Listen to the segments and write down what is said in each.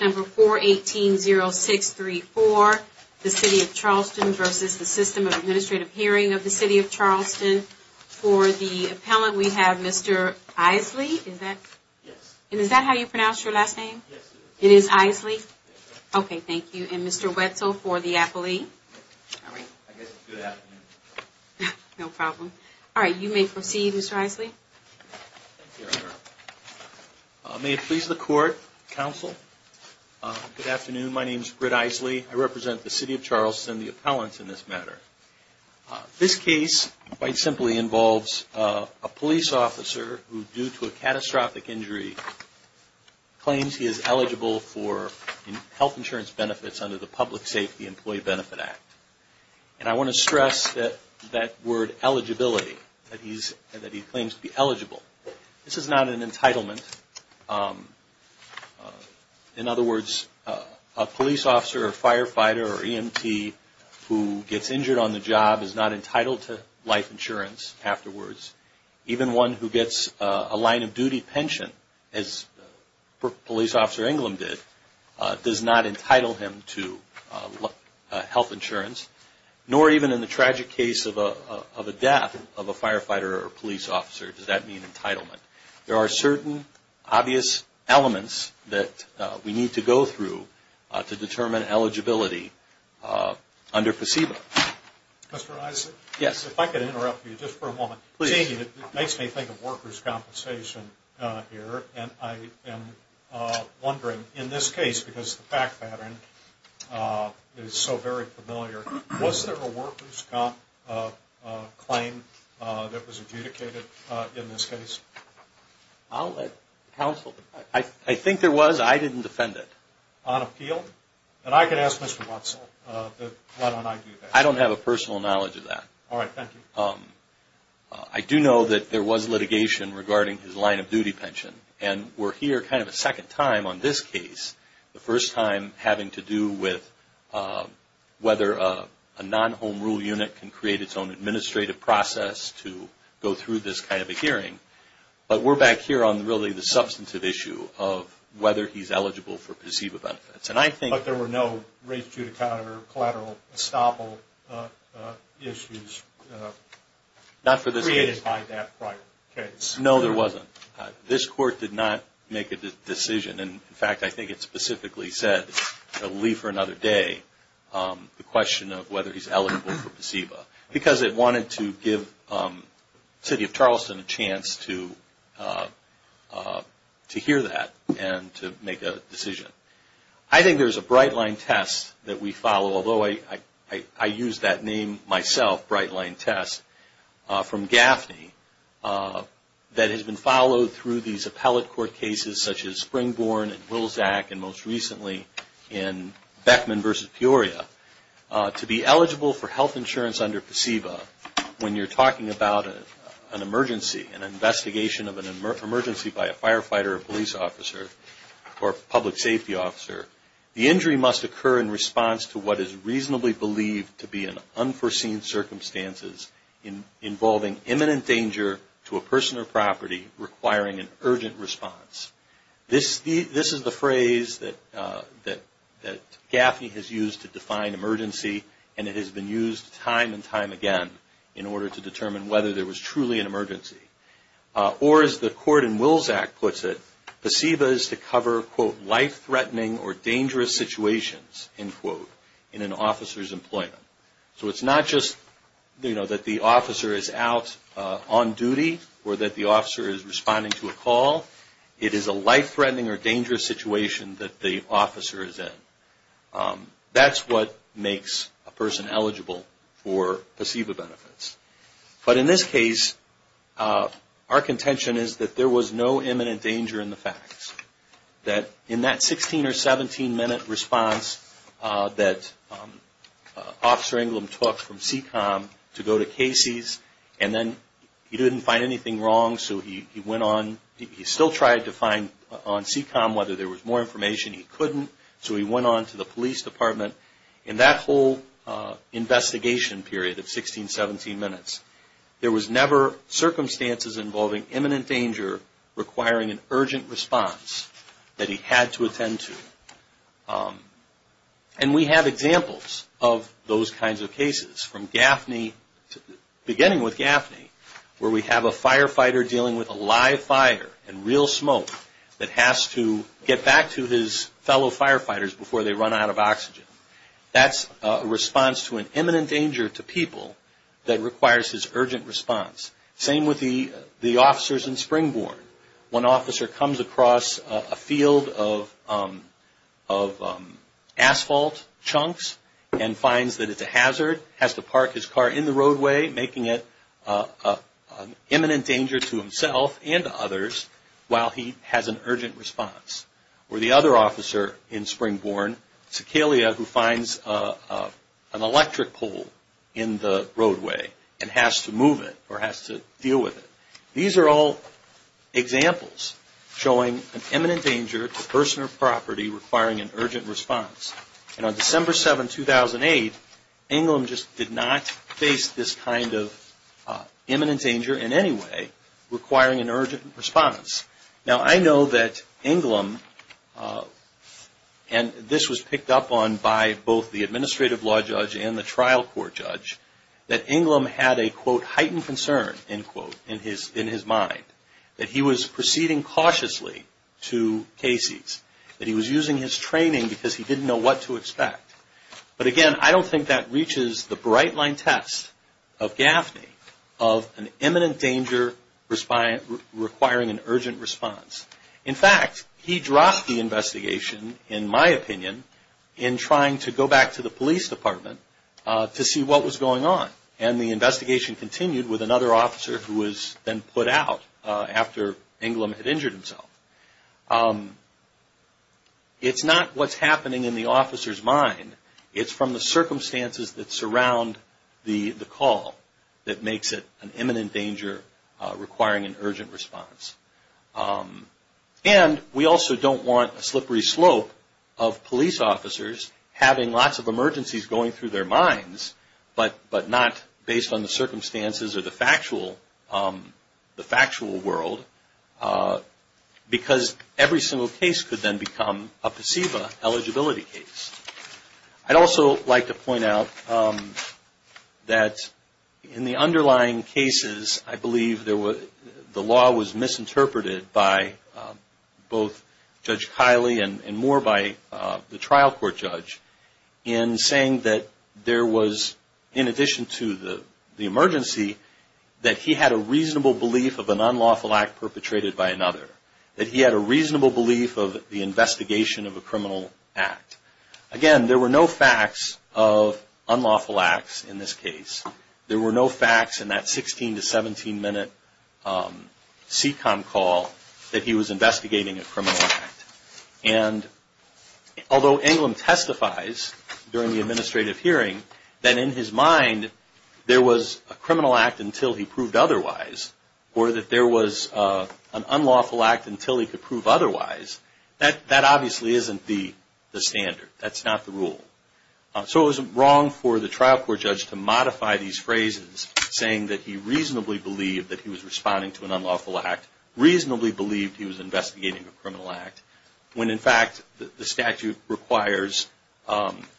number 418-0634, the City of Charleston v. The System of Administrative Hearing of the City of Charleston. For the appellant, we have Mr. Isley. Is that how you pronounce your last name? It is Isley? Okay, thank you. And Mr. Wetzel for the appellee. All right, you may proceed, Mr. Isley. May it please the court, counsel, good afternoon. My name is Britt Isley. I represent the City of Charleston, the appellants in this matter. This case quite simply involves a police officer who, due to a catastrophic injury, claims he is eligible for health insurance benefits under the Public Safety Employee Benefit Act. And I want to stress that word eligibility, that he claims to be eligible. This is not an entitlement. In other words, a police officer or firefighter or EMT who gets injured on the job is not entitled to life insurance afterwards. Even one who gets a line of duty pension, as Police Officer England did, does not entitle him to health insurance. Nor even in the tragic case of a death of a firefighter or police officer, does that mean entitlement? There are certain obvious elements that we need to go through to determine eligibility under FACEBA. Mr. Isley? Yes. If I could interrupt you just for a moment. Please. It makes me think of workers' compensation here, and I am wondering, in this case, because the fact pattern is so very familiar, was there a workers' compensation claim that was adjudicated in this case? I'll let counsel. I think there was. I didn't defend it. On appeal? And I could ask Mr. Wetzel that why don't I do that. I don't have a personal knowledge of that. Alright, thank you. I do know that there was litigation regarding his line of duty pension. And we're here kind of a second time on this case. The first time having to do with whether a non-home rule unit can create its own administrative process for the process to go through this kind of a hearing. But we're back here on really the substantive issue of whether he's eligible for PCEBA benefits. But there were no race judicata or collateral estoppel issues created by that prior case? No, there wasn't. This court did not make a decision. And in fact, I think it specifically said, leave for another day, the question of whether he's eligible for PCEBA. Because it wanted to give the City of Charleston a chance to hear that and to make a decision. I think there's a Bright Line test that we follow, although I use that name myself, Bright Line test, from Gaffney that has been followed through these appellate court cases such as Springborn and Wilsac and most recently in Beckman versus Peoria, to be eligible for health insurance under PCEBA when you're talking about the emergency, an investigation of an emergency by a firefighter or police officer or public safety officer, the injury must occur in response to what is reasonably believed to be an unforeseen circumstances involving imminent danger to a person or property requiring an urgent response. This is the phrase that Gaffney has used to define emergency and it has been used time and time again in order to determine whether there was truly an emergency. Or as the court in Wilsac puts it, PCEBA is to cover, quote, life-threatening or dangerous situations, end quote, in an officer's employment. So it's not just that the officer is out on duty or that the officer is responding to a call. It is a life-threatening or dangerous situation that the officer is in. That's what makes a person eligible for PCEBA benefits. But in this case, our contention is that there was no imminent danger in the facts. That in that 16 or 17 minute response that Officer Englund took from CECOM to go to Casey's and then he didn't find anything wrong, so he went on. He still tried to find on CECOM whether there was more information he couldn't, so he went on to the police department. In that whole investigation period of 16, 17 minutes, there was never circumstances involving imminent danger requiring an urgent response. That he had to attend to. And we have examples of those kinds of cases from Gaffney, beginning with Gaffney, where we have a firefighter dealing with a live fire and real smoke that has to get back to his fellow firefighters before they run out of oxygen. That's a response to an imminent danger to people that requires his urgent response. Same with the officers in Springbourne. One officer comes across a field of asphalt chunks and finds that it's a hazard, has to park his car in the roadway, making it an imminent danger to himself and others while he has an urgent response. Or the other officer in Springbourne, Sicalia, who finds an electric pole in the roadway and has to move it or has to deal with it. These are all examples showing an imminent danger to person or property requiring an urgent response. And on December 7, 2008, Englund just did not face this kind of imminent danger in any way requiring an urgent response. Now, I know that Englund, and this was picked up on by both the administrative law judge and the trial court judge, that Englund had a, quote, heightened concern, end quote, in his mind. That he was proceeding cautiously to cases. That he was using his training because he didn't know what to expect. But again, I don't think that reaches the bright line test of Gaffney of an imminent danger requiring an urgent response. In fact, he dropped the investigation, in my opinion, in trying to go back to the police department to see what was going on. And the investigation continued with another officer who was then put out after Englund had injured himself. It's not what's happening in the officer's mind. It's from the circumstances that surround the call that makes it an imminent danger requiring an urgent response. And we also don't want a slippery slope of police officers having lots of emergencies going through their minds, but not based on the circumstances or the factual world. Because every single case could then become a placebo eligibility case. I'd also like to point out that in the underlying cases, I believe the law was misinterpreted by both Judge Kiley and more by the trial court judge in saying that there was, in addition to the emergency, that he had a reasonable belief of an unlawful act per se. That he had a reasonable belief of the investigation of a criminal act. Again, there were no facts of unlawful acts in this case. There were no facts in that 16- to 17-minute SECOM call that he was investigating a criminal act. And although Englund testifies during the administrative hearing that in his mind there was a criminal act until he proved otherwise, or that there was an unlawful act until he could prove otherwise, that obviously isn't the standard. That's not the rule. So it was wrong for the trial court judge to modify these phrases saying that he reasonably believed that he was responding to an unlawful act, reasonably believed he was investigating a criminal act, when in fact the statute requires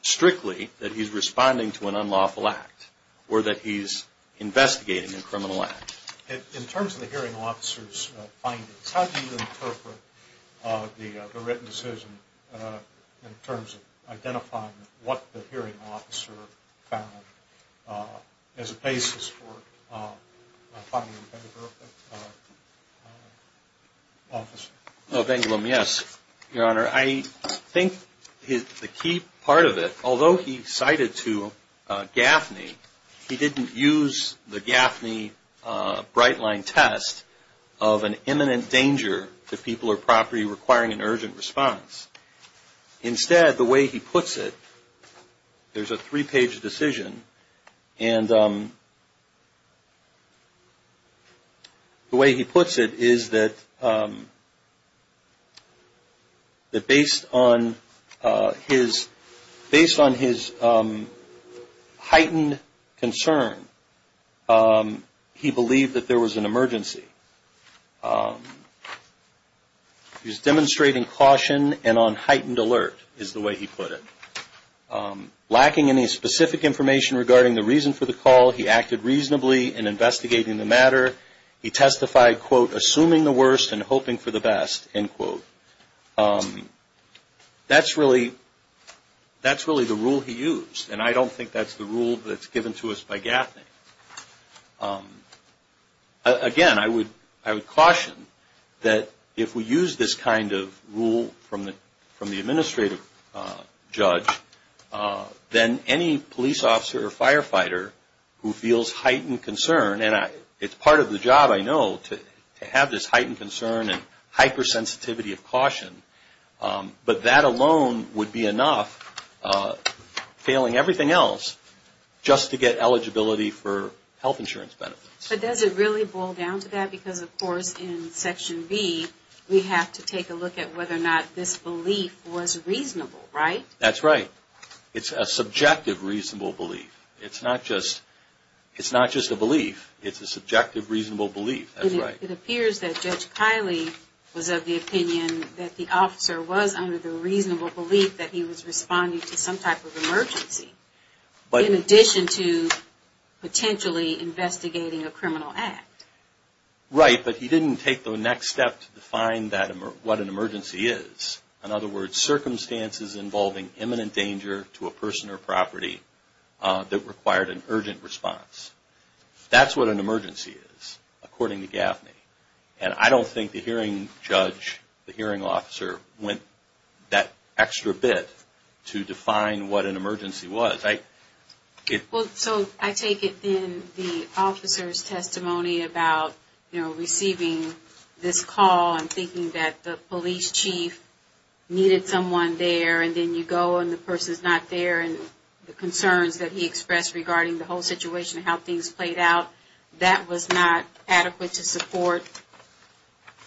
strictly that he's responding to an unlawful act or that he's investigating a criminal act. In terms of the hearing officer's findings, how do you interpret the written decision in terms of identifying what the hearing officer found as a basis for finding a better officer? Of Englund, yes, Your Honor. I think the key part of it, although he cited to Gaffney, he didn't use the Gaffney Brightline test of an imminent danger to people or property requiring an urgent response. Instead, the way he puts it, there's a three-page decision, and the way he puts it is that based on his heightened concern, he believed that there was an emergency. He was demonstrating caution and on heightened alert, is the way he put it. Lacking any specific information regarding the reason for the call, he acted reasonably in investigating the matter. He testified, quote, assuming the worst and hoping for the best, end quote. That's really the rule he used, and I don't think that's the rule that's given to us by Gaffney. Again, I would caution that if we use this kind of rule from the administrative judge, then any police officer or firefighter who feels heightened concern, and it's part of the job, I know, to have this heightened concern and hypersensitivity of concern, but that alone would be enough, failing everything else, just to get eligibility for health insurance benefits. But does it really boil down to that? Because, of course, in Section B, we have to take a look at whether or not this belief was reasonable, right? That's right. It's a subjective reasonable belief. It's not just a belief. It's a subjective reasonable belief. That's right. It appears that Judge Kiley was of the opinion that the officer was under the reasonable belief that he was responding to some type of emergency, in addition to potentially investigating a criminal act. Right, but he didn't take the next step to define what an emergency is. In other words, circumstances involving imminent danger to a person or property that required an urgent response. That's what an emergency is, according to Gaffney. And I don't think the hearing judge, the hearing officer, went that extra bit to define what an emergency was. Well, so I take it then the officer's testimony about, you know, receiving this call and thinking that the police chief needed someone there, and then you go and the person's not there, and the concerns that he expressed regarding the whole situation and how things played out, that was not adequate to support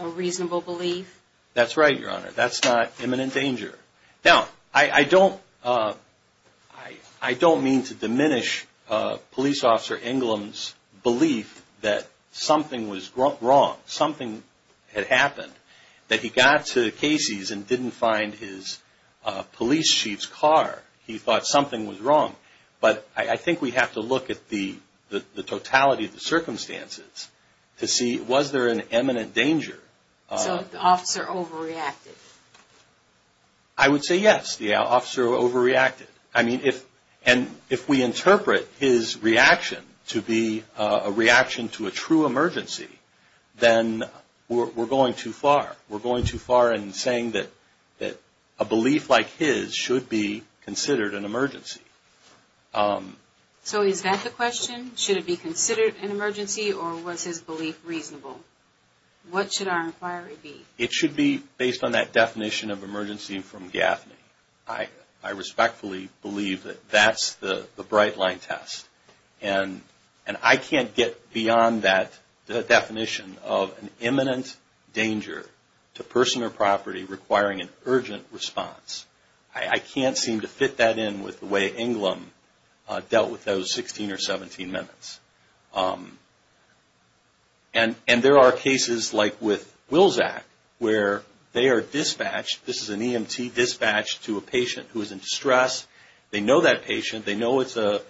a reasonable belief? That's right, Your Honor. That's not imminent danger. Now, I don't mean to diminish Police Officer Inglom's belief that something was wrong, something had happened, that he got to Casey's and didn't find his police chief's car. He thought something was wrong. But I think we have to look at the totality of the circumstances to see, was there an imminent danger? So the officer overreacted? I would say yes, the officer overreacted. I mean, if we interpret his reaction to be a reaction to a true emergency, then we're going too far. We're going too far in saying that a belief like his should be considered an emergency. So is that the question? Should it be considered an emergency, or was his belief reasonable? What should our inquiry be? It should be based on that definition of emergency from Gaffney. I respectfully believe that that's the bright line test. And I can't get beyond that definition of an imminent danger to person or property requiring an urgent response. I can't seem to fit that in with the way Inglom dealt with those 16 or 17 minutes. And there are cases like with Wilsak, where they are dispatched, this is an EMT dispatched to a patient who is in distress. They know that patient. They know it's a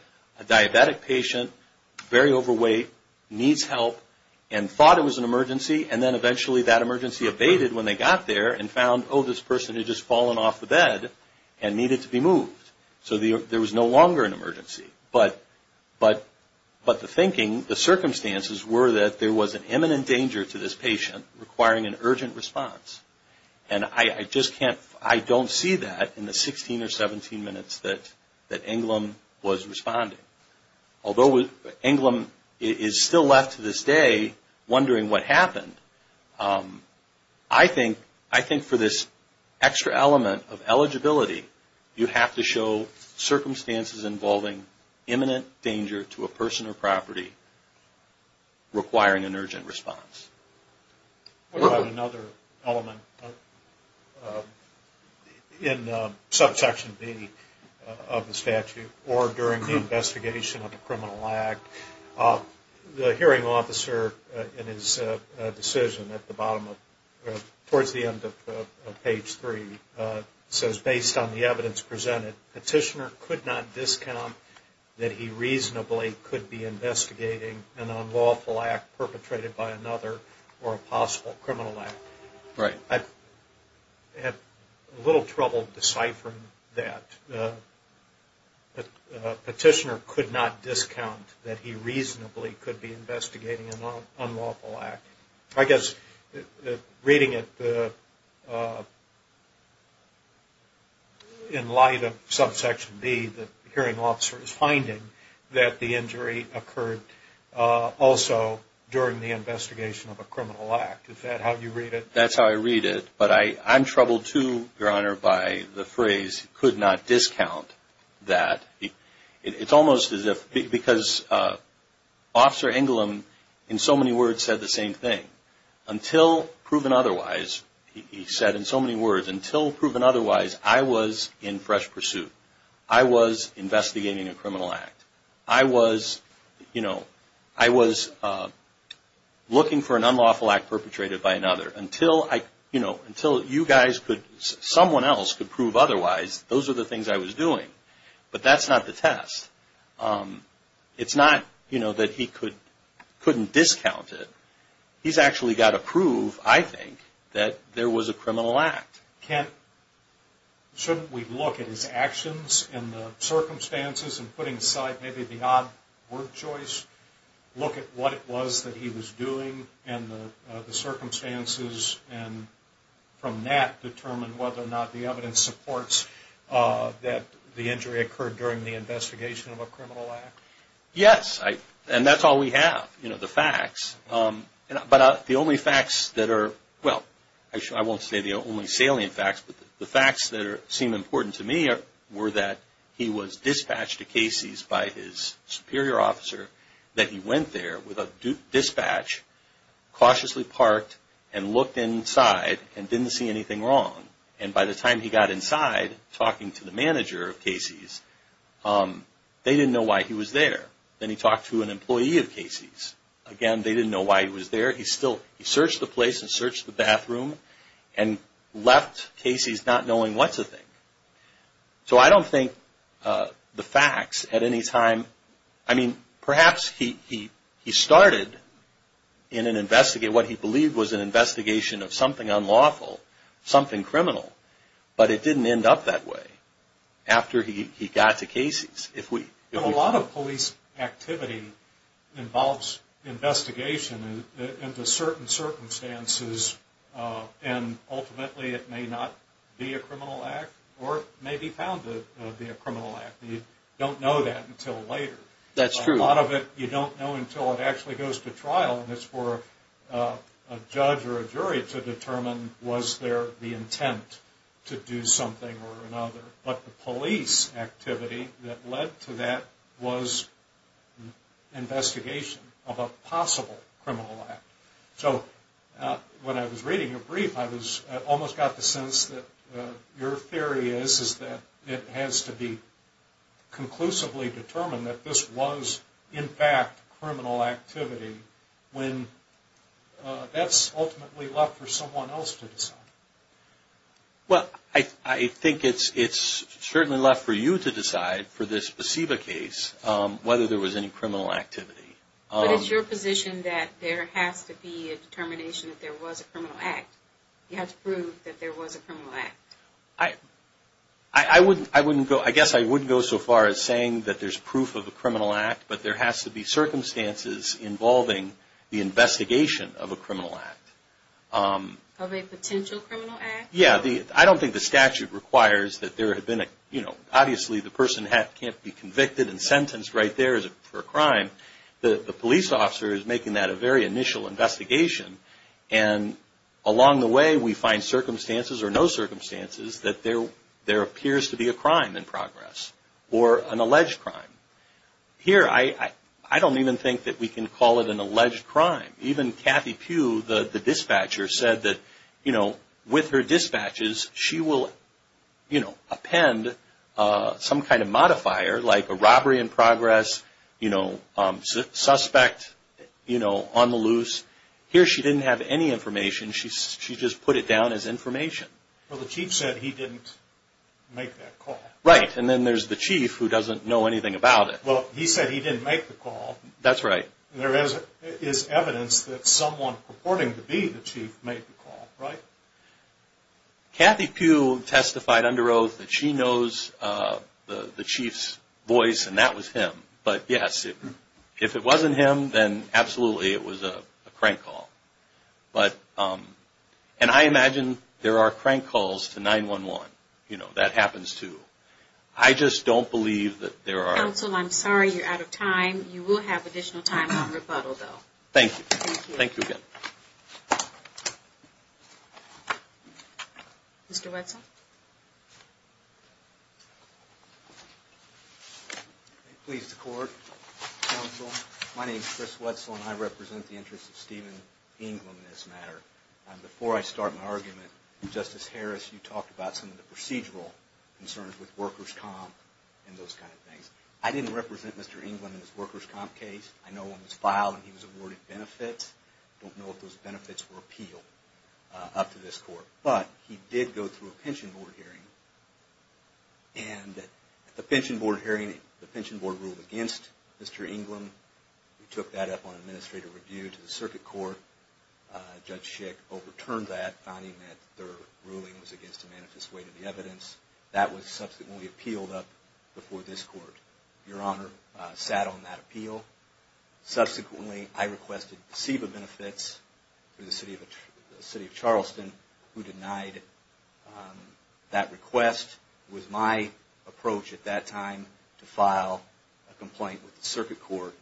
diabetic patient, very overweight, needs help, and thought it was an emergency. And then eventually that emergency abated when they got there and found, oh, this person had just fallen off the bed and needed to be moved. So there was no longer an emergency. But the thinking, the circumstances were that there was an imminent danger to this patient requiring an urgent response. And I just can't, I don't see that in the 16 or 17 minutes that Inglom was responding. Although Inglom is still left to this day wondering what happened, I think for this extra element of eligibility, you have to show circumstances involving imminent danger to a person or property requiring an urgent response. What about another element in subsection B of the statute, or during the investigation of a criminal act? The hearing officer in his decision at the bottom of, towards the end of page 3, says, based on the evidence presented, the petitioner could not discount that he reasonably could be investigating an unlawful act perpetrated by another. Or a possible criminal act. I have a little trouble deciphering that. Petitioner could not discount that he reasonably could be investigating an unlawful act. I guess reading it in light of subsection B, the hearing officer is finding that the injury occurred also during the investigation of a criminal act. Is that how you read it? That's how I read it. But I'm troubled too, Your Honor, by the phrase, could not discount that. It's almost as if, because Officer Inglom in so many words said the same thing. Until proven otherwise, he said in so many words, until proven otherwise, I was in fresh pursuit. I was investigating a criminal act. I was, you know, I was looking for an unlawful act perpetrated by another. Until I, you know, until you guys could, someone else could prove otherwise, those are the things I was doing. But that's not the test. It's not, you know, that he couldn't discount it. He's actually got to prove, I think, that there was a criminal act. Kent, shouldn't we look at his actions and the circumstances and putting aside maybe the odd word choice, look at what it was that he was doing and the circumstances and from that determine whether or not the evidence supports that the injury occurred during the investigation of a criminal act? Yes. And that's all we have, you know, the facts. But the only facts that are, well, I won't say the only salient facts, but the facts that seem important to me were that he was dispatched to Casey's by his superior officer, that he went there with a dispatch, cautiously parked and looked inside and didn't see anything wrong. And by the time he got inside, talking to the manager of Casey's, they didn't know why he was there. Then he talked to an employee of Casey's. Again, they didn't know why he was there. He still, he searched the place and searched the bathroom and left Casey's not knowing what to think. So I don't think the facts at any time, I mean, perhaps he started in an investigation, what he believed was an investigation of something unlawful, something criminal, but it didn't end up that way after he got to Casey's. A lot of police activity involves investigation into certain circumstances and ultimately it may not be a criminal act or it may be found to be a criminal act. You don't know that until later. That's true. A lot of it you don't know until it actually goes to trial and it's for a judge or a jury to determine was there the intent to do something or another. But the police activity that led to that was investigation of a possible criminal act. So when I was reading your brief, I almost got the sense that your theory is that it has to be conclusively determined that this was, in fact, criminal activity when that's ultimately left for someone else to decide. Well, I think it's certainly left for you to decide for this specific case whether there was any criminal activity. But it's your position that there has to be a determination that there was a criminal act. You have to prove that there was a criminal act. I guess I wouldn't go so far as saying that there's proof of a criminal act, but there has to be circumstances involving the investigation of a criminal act. Of a potential criminal act? Yeah, I don't think the statute requires that there had been a, you know, obviously the person can't be convicted and sentenced right there for a crime. The police officer is making that a very initial investigation and along the way we find circumstances or no circumstances that there appears to be a crime in progress or an alleged crime. Here, I don't even think that we can call it an alleged crime. Even Kathy Pugh, the dispatcher, said that, you know, with her dispatches she will, you know, append some kind of modifier like a robbery in progress, you know, suspect, you know, on the loose. Here she didn't have any information. She just put it down as information. Well, the chief said he didn't make that call. Right, and then there's the chief who doesn't know anything about it. Well, he said he didn't make the call. That's right. There is evidence that someone purporting to be the chief made the call, right? Kathy Pugh testified under oath that she knows the chief's voice and that was him, but yes, if it wasn't him, then absolutely it was a crank call. But, and I imagine there are crank calls to 911, you know, that happens too. I just don't believe that there are... Counsel, I'm sorry, you're out of time. You will have additional time on rebuttal though. Thank you. Thank you again. Mr. Wetzel. If it pleases the court, counsel, my name is Chris Wetzel and I represent the interests of Stephen Englund in this matter. Before I start my argument, Justice Harris, you talked about some of the procedural concerns with workers' comp and those kind of things. I didn't represent Mr. Englund in his workers' comp case. I know when it was filed and he was awarded benefits. I don't know if those benefits were appealed up to this court. But, he did go through a pension board hearing and at the pension board hearing, the pension board ruled against Mr. Englund. We took that up on administrative review to the circuit court. Judge Schick overturned that, finding that their ruling was against a manifest way to the evidence. That was subsequently appealed up before this court. Your Honor sat on that appeal. Subsequently, I requested CEBA benefits through the city of Charleston, who denied that request. It was my approach at that time to file a complaint with the circuit court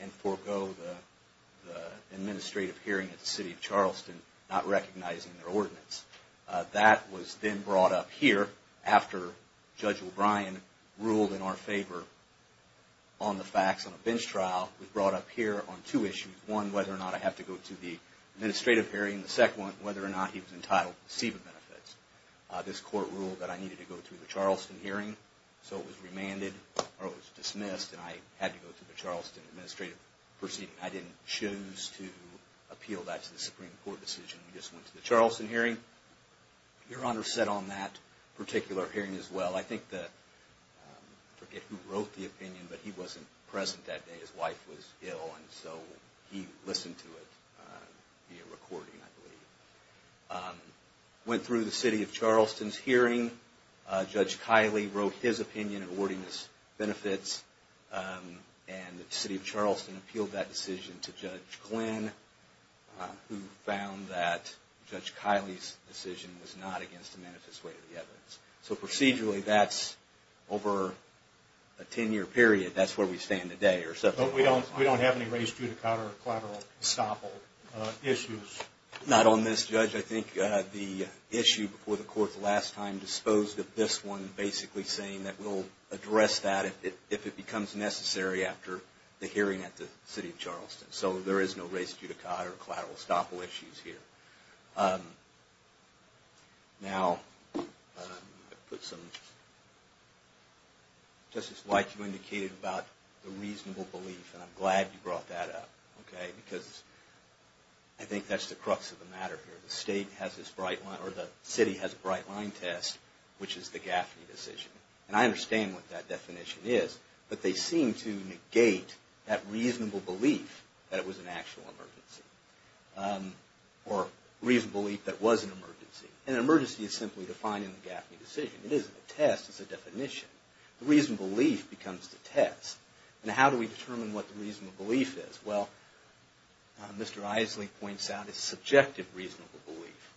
and forego the administrative hearing at the city of Charleston, not recognizing their ordinance. That was then brought up here after Judge O'Brien ruled in our favor on the facts on a bench trial. It was brought up here on two issues. One, whether or not I have to go through the administrative hearing. The second one, whether or not he was entitled to CEBA benefits. This court ruled that I needed to go through the Charleston hearing. So, it was remanded or it was dismissed and I had to go through the Charleston administrative proceeding. I didn't choose to appeal that to the Supreme Court decision. I just went to the Charleston hearing. Your Honor sat on that particular hearing as well. I forget who wrote the opinion, but he wasn't present that day. His wife was ill and so he listened to it via recording, I believe. I went through the city of Charleston's hearing. Judge Kiley wrote his opinion in awarding us benefits. The city of Charleston appealed that decision to Judge Glynn, who found that Judge Kiley's decision was not against the manifest way of the evidence. So, procedurally, that's over a 10-year period. That's where we stand today. But we don't have any raised judicata or collateral estoppel issues? Not on this, Judge. Judge, I think the issue before the court the last time disposed of this one basically saying that we'll address that if it becomes necessary after the hearing at the city of Charleston. So, there is no raised judicata or collateral estoppel issues here. Now, Justice White, you indicated about the reasonable belief and I'm glad you brought that up. Because I think that's the crux of the matter here. The city has a bright line test, which is the Gaffney decision. And I understand what that definition is, but they seem to negate that reasonable belief that it was an actual emergency. Or reasonable belief that it was an emergency. And an emergency is simply defined in the Gaffney decision. It isn't a test, it's a definition. The reasonable belief becomes the test. Now, how do we determine what the reasonable belief is? Well, Mr. Isley points out a subjective reasonable belief.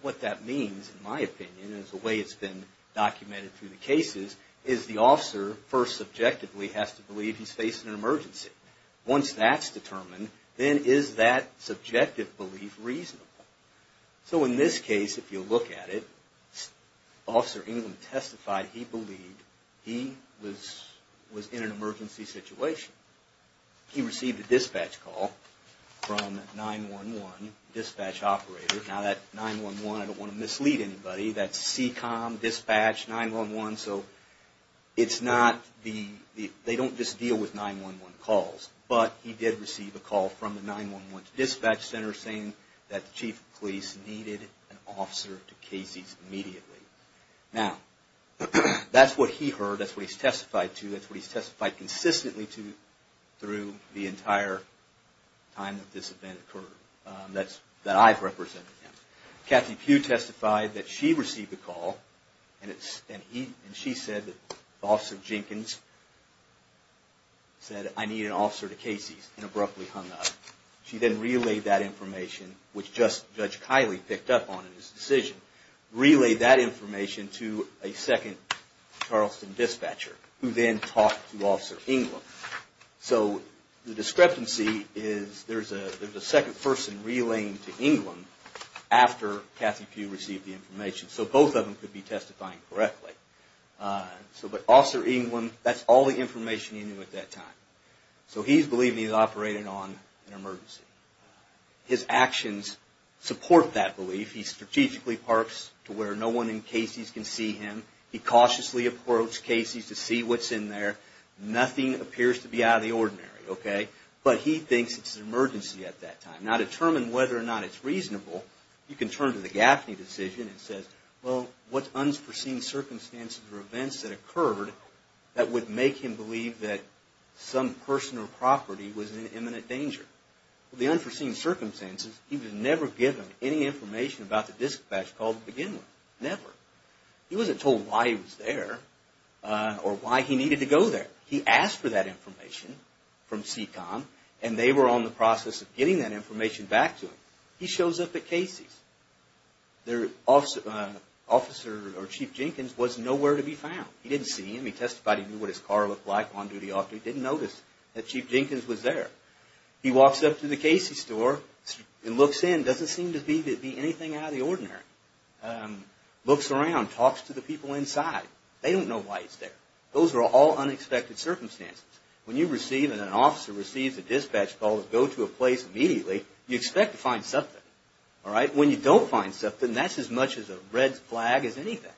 What that means, in my opinion, is the way it's been documented through the cases, is the officer first subjectively has to believe he's facing an emergency. Once that's determined, then is that subjective belief reasonable? So, in this case, if you look at it, Officer England testified he believed he was in an emergency situation. He received a dispatch call from 911 dispatch operator. Now, that 911, I don't want to mislead anybody, that's CECOM, dispatch, 911. So, it's not the, they don't just deal with 911 calls. But, he did receive a call from the 911 dispatch center saying that the chief of police needed an officer to KC's immediately. Now, that's what he heard, that's what he's testified to, that's what he's testified consistently to through the entire time that this event occurred, that I've represented him. Kathy Pugh testified that she received a call and she said that Officer Jenkins said, I need an officer to KC's and abruptly hung up. She then relayed that information, which Judge Kiley picked up on in his decision, relayed that information to a second Charleston dispatcher who then talked to Officer England. So, the discrepancy is there's a second person relaying to England after Kathy Pugh received the information. So, both of them could be testifying correctly. But, Officer England, that's all the information he knew at that time. So, he's believing he's operating on an emergency. His actions support that belief. He strategically parks to where no one in KC's can see him. He cautiously approached KC's to see what's in there. Nothing appears to be out of the ordinary, okay? But, he thinks it's an emergency at that time. Now, to determine whether or not it's reasonable, you can turn to the Gaffney decision and say, well, what's unforeseen circumstances or events that occurred that would make him believe that some person or property was in imminent danger? Well, the unforeseen circumstances, he was never given any information about the dispatch call to begin with. Never. He wasn't told why he was there or why he needed to go there. He asked for that information from CECOM and they were on the process of getting that information back to him. He shows up at KC's. Their Chief Jenkins was nowhere to be found. He didn't see him. He testified he knew what his car looked like on duty. He didn't notice that Chief Jenkins was there. He walks up to the KC's store and looks in. Doesn't seem to be anything out of the ordinary. Looks around. Talks to the people inside. They don't know why he's there. Those are all unexpected circumstances. When you receive and an officer receives a dispatch call to go to a place immediately, you expect to find something. When you don't find something, that's as much of a red flag as anything.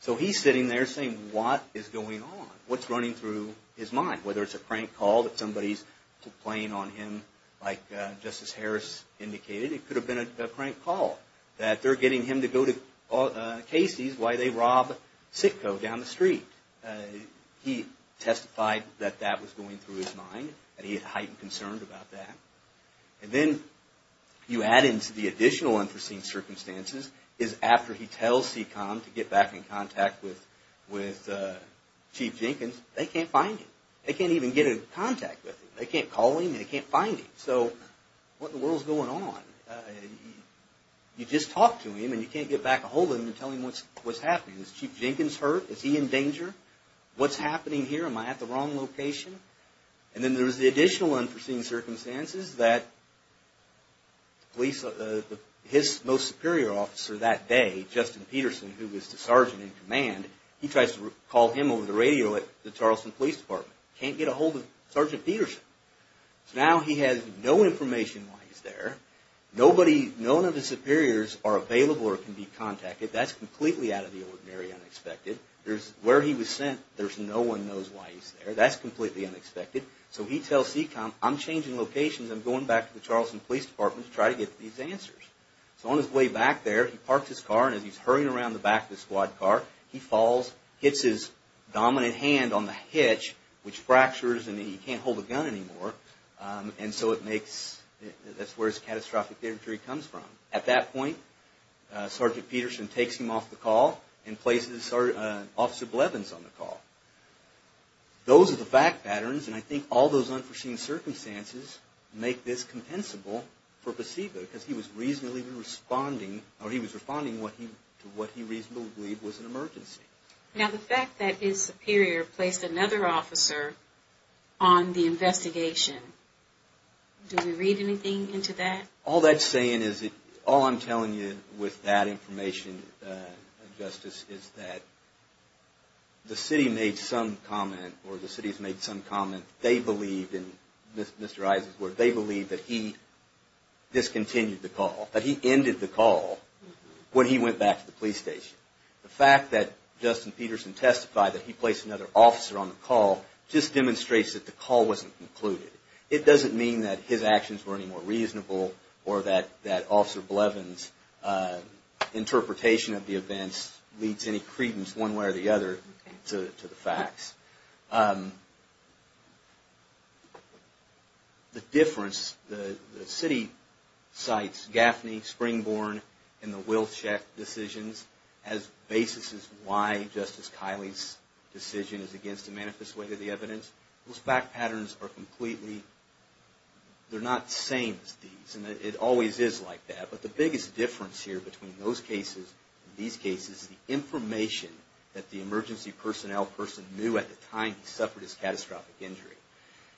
So, he's sitting there saying, what is going on? What's running through his mind? Whether it's a prank call that somebody's playing on him like Justice Harris indicated. It could have been a prank call. That they're getting him to go to KC's while they rob Sitco down the street. He testified that that was going through his mind. That he had heightened concern about that. And then you add into the additional unforeseen circumstances is after he tells CECOM to get back in contact with Chief Jenkins, they can't find him. They can't even get in contact with him. They can't call him and they can't find him. So, what in the world is going on? You just talk to him and you can't get back a hold of him and tell him what's happening. Is Chief Jenkins hurt? Is he in danger? What's happening here? Am I at the wrong location? And then there's the additional unforeseen circumstances that his most superior officer that day, Justin Peterson, who was the sergeant in command, he tries to call him over the radio at the Charleston Police Department. Can't get a hold of Sergeant Peterson. So, now he has no information why he's there. None of his superiors are available or can be contacted. That's completely out of the ordinary, unexpected. Where he was sent, there's no one knows why he's there. That's completely unexpected. So, he tells CECOM, I'm changing locations. I'm going back to the Charleston Police Department to try to get these answers. So, on his way back there, he parks his car and as he's hurrying around the back of the squad car, he falls, hits his dominant hand on the hitch, which fractures and he can't hold a gun anymore. And so, that's where his catastrophic injury comes from. At that point, Sergeant Peterson takes him off the call and places Officer Blevins on the call. Those are the fact patterns and I think all those unforeseen circumstances make this compensable for placebo because he was reasonably responding, or he was responding to what he reasonably believed was an emergency. Now, the fact that his superior placed another officer on the investigation, do we read anything into that? All that's saying is, all I'm telling you with that information, Justice, is that the city made some comment or the city has made some comment. They believed, and Mr. Issa's word, they believed that he discontinued the call, that he ended the call when he went back to the police station. The fact that Justin Peterson testified that he placed another officer on the call just demonstrates that the call wasn't concluded. It doesn't mean that his actions were any more reasonable or that Officer Blevins' interpretation of the events leads any credence one way or the other to the facts. The difference, the city cites Gaffney, Springborn, and the Wilczek decisions as basis as to why Justice Kiley's decision is against a manifest way to the evidence. Those fact patterns are completely, they're not the same as these and it always is like that. But the biggest difference here between those cases and these cases is the information that the emergency personnel person knew at the time he suffered this catastrophic injury.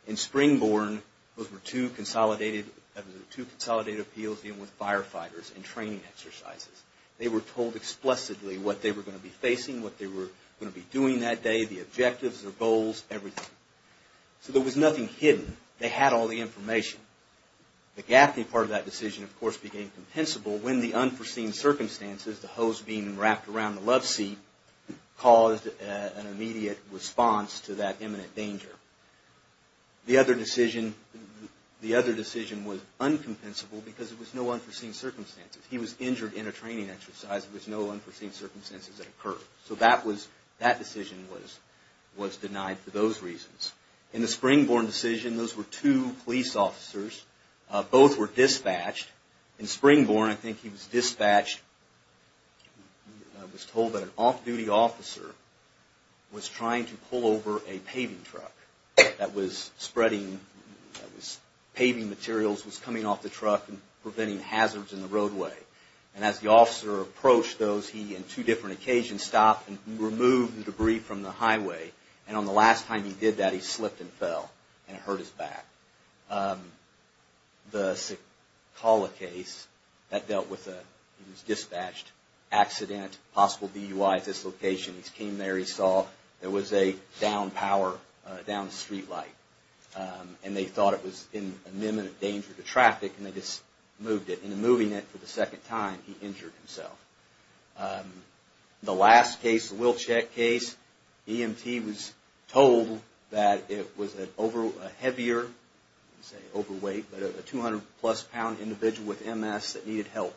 In Springborn, those were two consolidated appeals dealing with firefighters and training exercises. They were told explicitly what they were going to be facing, what they were going to be doing that day, the objectives, their goals, everything. So there was nothing hidden. They had all the information. The Gaffney part of that decision, of course, became compensable when the unforeseen circumstances, the hose being wrapped around the love seat, caused an immediate response to that imminent danger. The other decision was uncompensable because it was no unforeseen circumstances. He was injured in a training exercise. There was no unforeseen circumstances that occurred. So that decision was denied for those reasons. In the Springborn decision, those were two police officers. Both were dispatched. In Springborn, I think he was dispatched, was told that an off-duty officer was trying to pull over a paving truck that was spreading, paving materials was coming off the truck and preventing hazards in the roadway. And as the officer approached those, he on two different occasions stopped and removed the debris from the highway. And on the last time he did that, he slipped and fell, and it hurt his back. The Sekala case, that dealt with a, he was dispatched, accident, possible DUI at this location. He came there, he saw there was a downed power, downed streetlight. And they thought it was an imminent danger to traffic, and they just moved it. And in moving it for the second time, he injured himself. The last case, the Wilczek case, EMT was told that it was a heavier, let's say overweight, but a 200 plus pound individual with MS that needed help.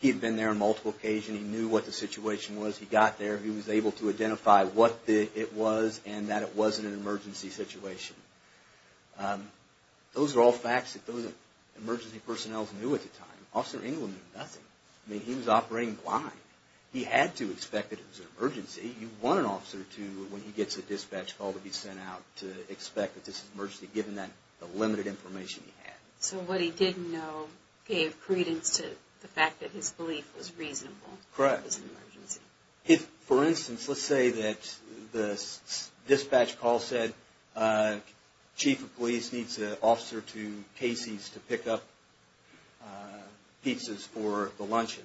He had been there on multiple occasions. He knew what the situation was. He got there. He was able to identify what it was, and that it wasn't an emergency situation. Those are all facts that those emergency personnel knew at the time. Officer England knew nothing. I mean, he was operating blind. He had to expect that it was an emergency. You want an officer to, when he gets a dispatch call to be sent out, to expect that this is an emergency, given the limited information he had. So what he didn't know gave credence to the fact that his belief was reasonable. Correct. It was an emergency. For instance, let's say that the dispatch call said, Chief of Police needs an officer to Casey's to pick up pizzas for the luncheon.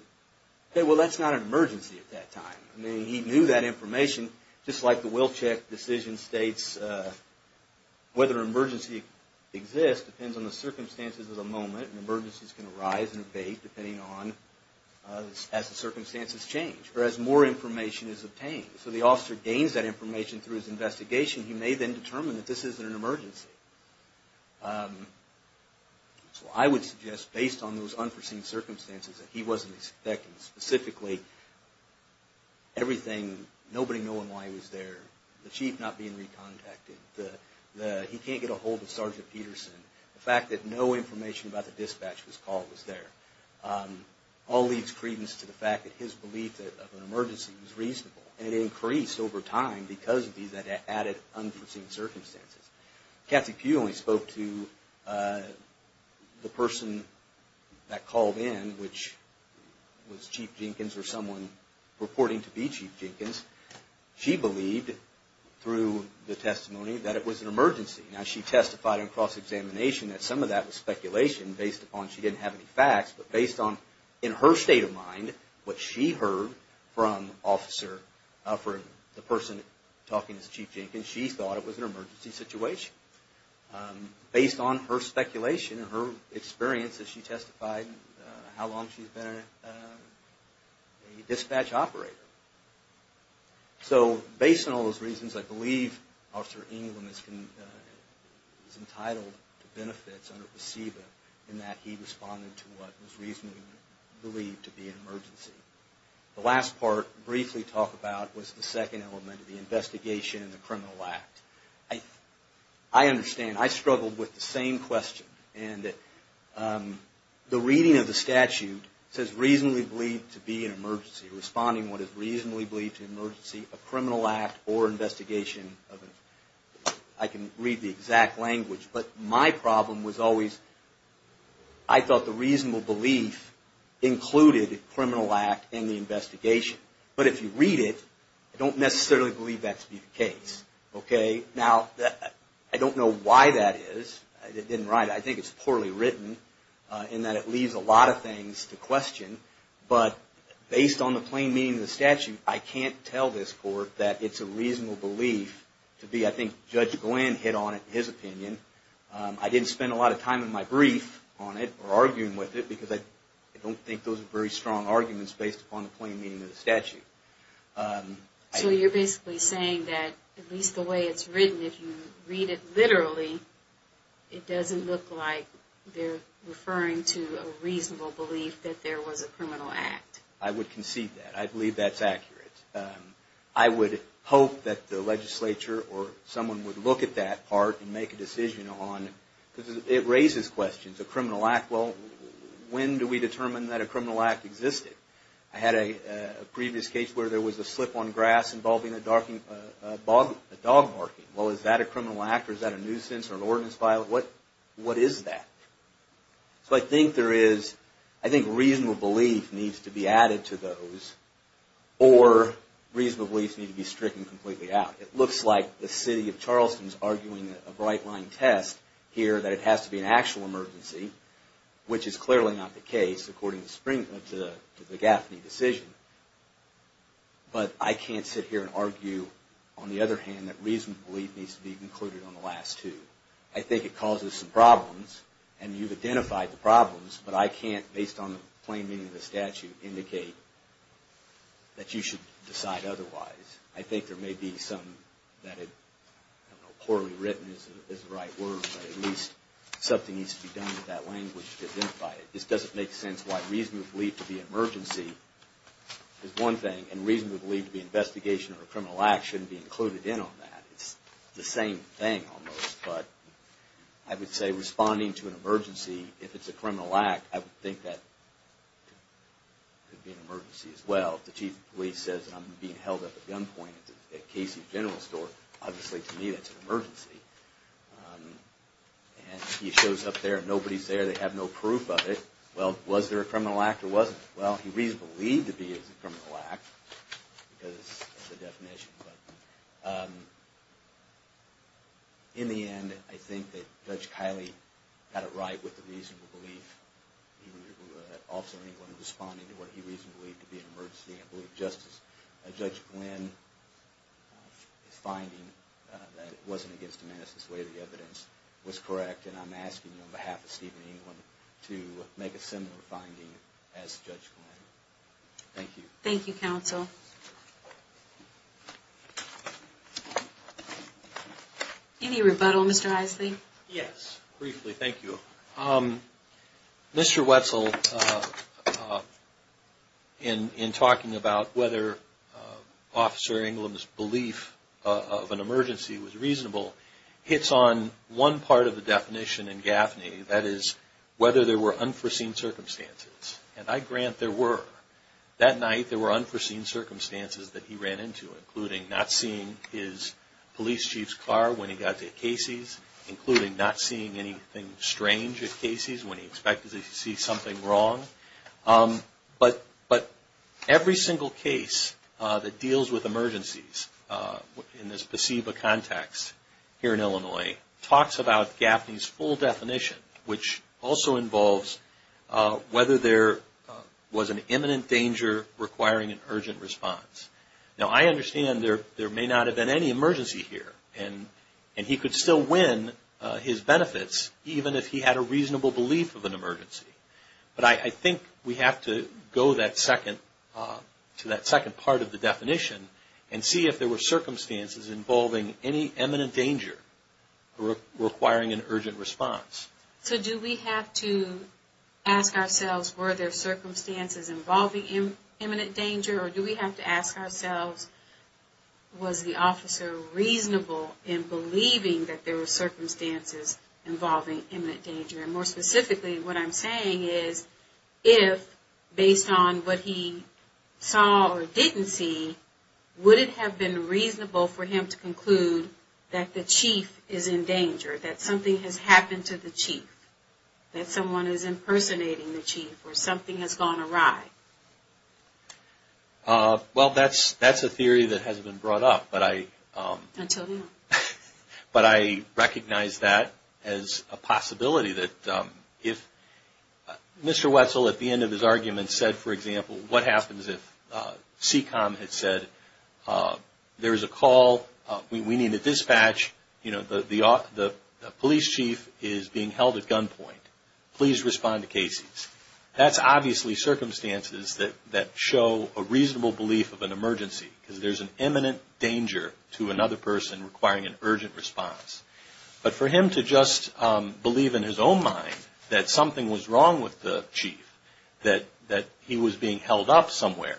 Okay, well, that's not an emergency at that time. I mean, he knew that information. Just like the Wilczek decision states, whether an emergency exists depends on the circumstances of the moment. An emergency is going to arise and evade depending on as the circumstances change, or as more information is obtained. So the officer gains that information through his investigation. He may then determine that this isn't an emergency. So I would suggest, based on those unforeseen circumstances, that he wasn't expecting specifically everything, nobody knowing why he was there, the chief not being recontacted, he can't get a hold of Sergeant Peterson, the fact that no information about the dispatch call was there, all leads credence to the fact that his belief of an emergency was reasonable. And it increased over time because of these added unforeseen circumstances. Kathy Pugh only spoke to the person that called in, which was Chief Jenkins, or someone purporting to be Chief Jenkins. She believed, through the testimony, that it was an emergency. Now, she testified in cross-examination that some of that was speculation, based upon she didn't have any facts, but based on, in her state of mind, what she heard from Officer Offred, the person talking to Chief Jenkins, she thought it was an emergency situation. Based on her speculation and her experience, she testified how long she's been a dispatch operator. So, based on all those reasons, I believe Officer England is entitled to benefits under PSEBA in that he responded to what was reasonably believed to be an emergency. The last part, briefly talked about, was the second element of the investigation and the criminal act. I understand, I struggled with the same question, and the reading of the statute says reasonably believed to be an emergency, responding to what is reasonably believed to be an emergency, a criminal act or investigation. I can read the exact language, but my problem was always, I thought the reasonable belief included a criminal act in the investigation. But if you read it, I don't necessarily believe that to be the case. Now, I don't know why that is. I think it's poorly written in that it leaves a lot of things to question. But based on the plain meaning of the statute, I can't tell this Court that it's a reasonable belief to be, I think, Judge Glenn hit on it in his opinion. I didn't spend a lot of time in my brief on it or arguing with it, because I don't think those are very strong arguments based upon the plain meaning of the statute. So you're basically saying that at least the way it's written, if you read it literally, it doesn't look like they're referring to a reasonable belief that there was a criminal act. I would concede that. I believe that's accurate. I would hope that the legislature or someone would look at that part and make a decision on, because it raises questions. A criminal act, well, when do we determine that a criminal act existed? I had a previous case where there was a slip on grass involving a dog barking. Well, is that a criminal act or is that a nuisance or an ordinance violation? What is that? So I think reasonable belief needs to be added to those, or reasonable beliefs need to be stricken completely out. It looks like the city of Charleston is arguing a bright-line test here that it has to be an actual emergency, which is clearly not the case according to the Gaffney decision. But I can't sit here and argue, on the other hand, that reasonable belief needs to be included on the last two. I think it causes some problems, and you've identified the problems, but I can't, based on the plain meaning of the statute, indicate that you should decide otherwise. I think there may be something that is poorly written is the right word, but at least something needs to be done with that language to identify it. This doesn't make sense why reasonable belief to be an emergency is one thing, and reasonable belief to be an investigation or a criminal act shouldn't be included in on that. It's the same thing, almost. But I would say responding to an emergency, if it's a criminal act, I would think that could be an emergency as well. If the chief of police says, I'm being held up at gunpoint at Casey's General Store, obviously to me that's an emergency. And he shows up there and nobody's there, they have no proof of it, well, was there a criminal act or wasn't there? Well, he's reasonable to believe it's a criminal act, because of the definition. In the end, I think that Judge Kiley got it right with the reasonable belief. Officer England was responding to what he reasonably believed to be an emergency, I believe Justice, Judge Glynn's finding that it wasn't against the manifest way of the evidence was correct, and I'm asking you on behalf of Stephen England to make a similar finding as Judge Glynn. Thank you. Any rebuttal, Mr. Isley? Yes, briefly, thank you. Mr. Wetzel, in talking about whether Officer England's belief of an emergency was reasonable, hits on one part of the definition in Gaffney, that is, whether there were unforeseen circumstances. And I grant there were. That night there were unforeseen circumstances that he ran into, including not seeing his police chief's car when he got to Casey's, including not seeing anything strange at Casey's when he expected to see something wrong. But every single case that deals with emergencies in this placebo context here in Illinois, talks about Gaffney's full definition, which also involves whether there was an imminent danger requiring an urgent response. Now, I understand there may not have been any emergency here, and he could still win his benefits, even if he had a reasonable belief of an emergency. But I think we have to go to that second part of the definition and see if there were circumstances involving any imminent danger requiring an urgent response. So do we have to ask ourselves were there circumstances involving imminent danger, or do we have to ask ourselves was the officer reasonable in believing that there were circumstances involving imminent danger? And more specifically, what I'm saying is, if, based on what he saw or didn't see, would it have been reasonable for him to conclude that the chief is in danger, that something has happened to the chief, that someone is impersonating the chief, or something has gone awry? Well, that's a theory that hasn't been brought up. But I recognize that as a possibility. If Mr. Wetzel at the end of his argument said, for example, what happens if CECOM had said, there is a call, we need a dispatch, the police chief is being held at gunpoint, please respond to Casey's. That's obviously circumstances that show a reasonable belief of an emergency, because there's an imminent danger to another person requiring an urgent response. But for him to just believe in his own mind that something was wrong with the chief, that he was being held up somewhere,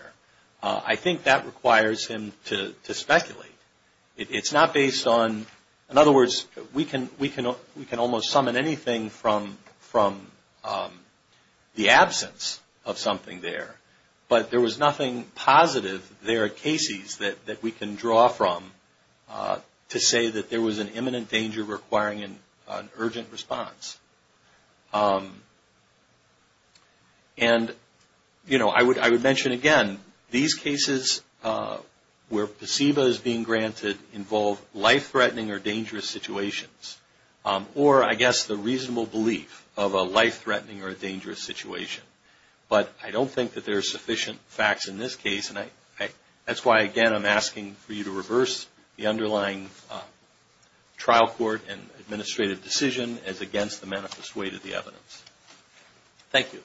I think that requires him to speculate. It's not based on, in other words, we can almost summon anything from, the absence of something there, but there was nothing positive there at Casey's that we can draw from to say that there was an imminent danger requiring an urgent response. And I would mention again, these cases where placebo is being granted involve life-threatening or dangerous situations, or I guess the reasonable belief of a life-threatening or a dangerous situation. But I don't think that there are sufficient facts in this case, and that's why again, I'm asking for you to reverse the underlying trial court and administrative decision as against the manifest weight of the evidence. Thank you.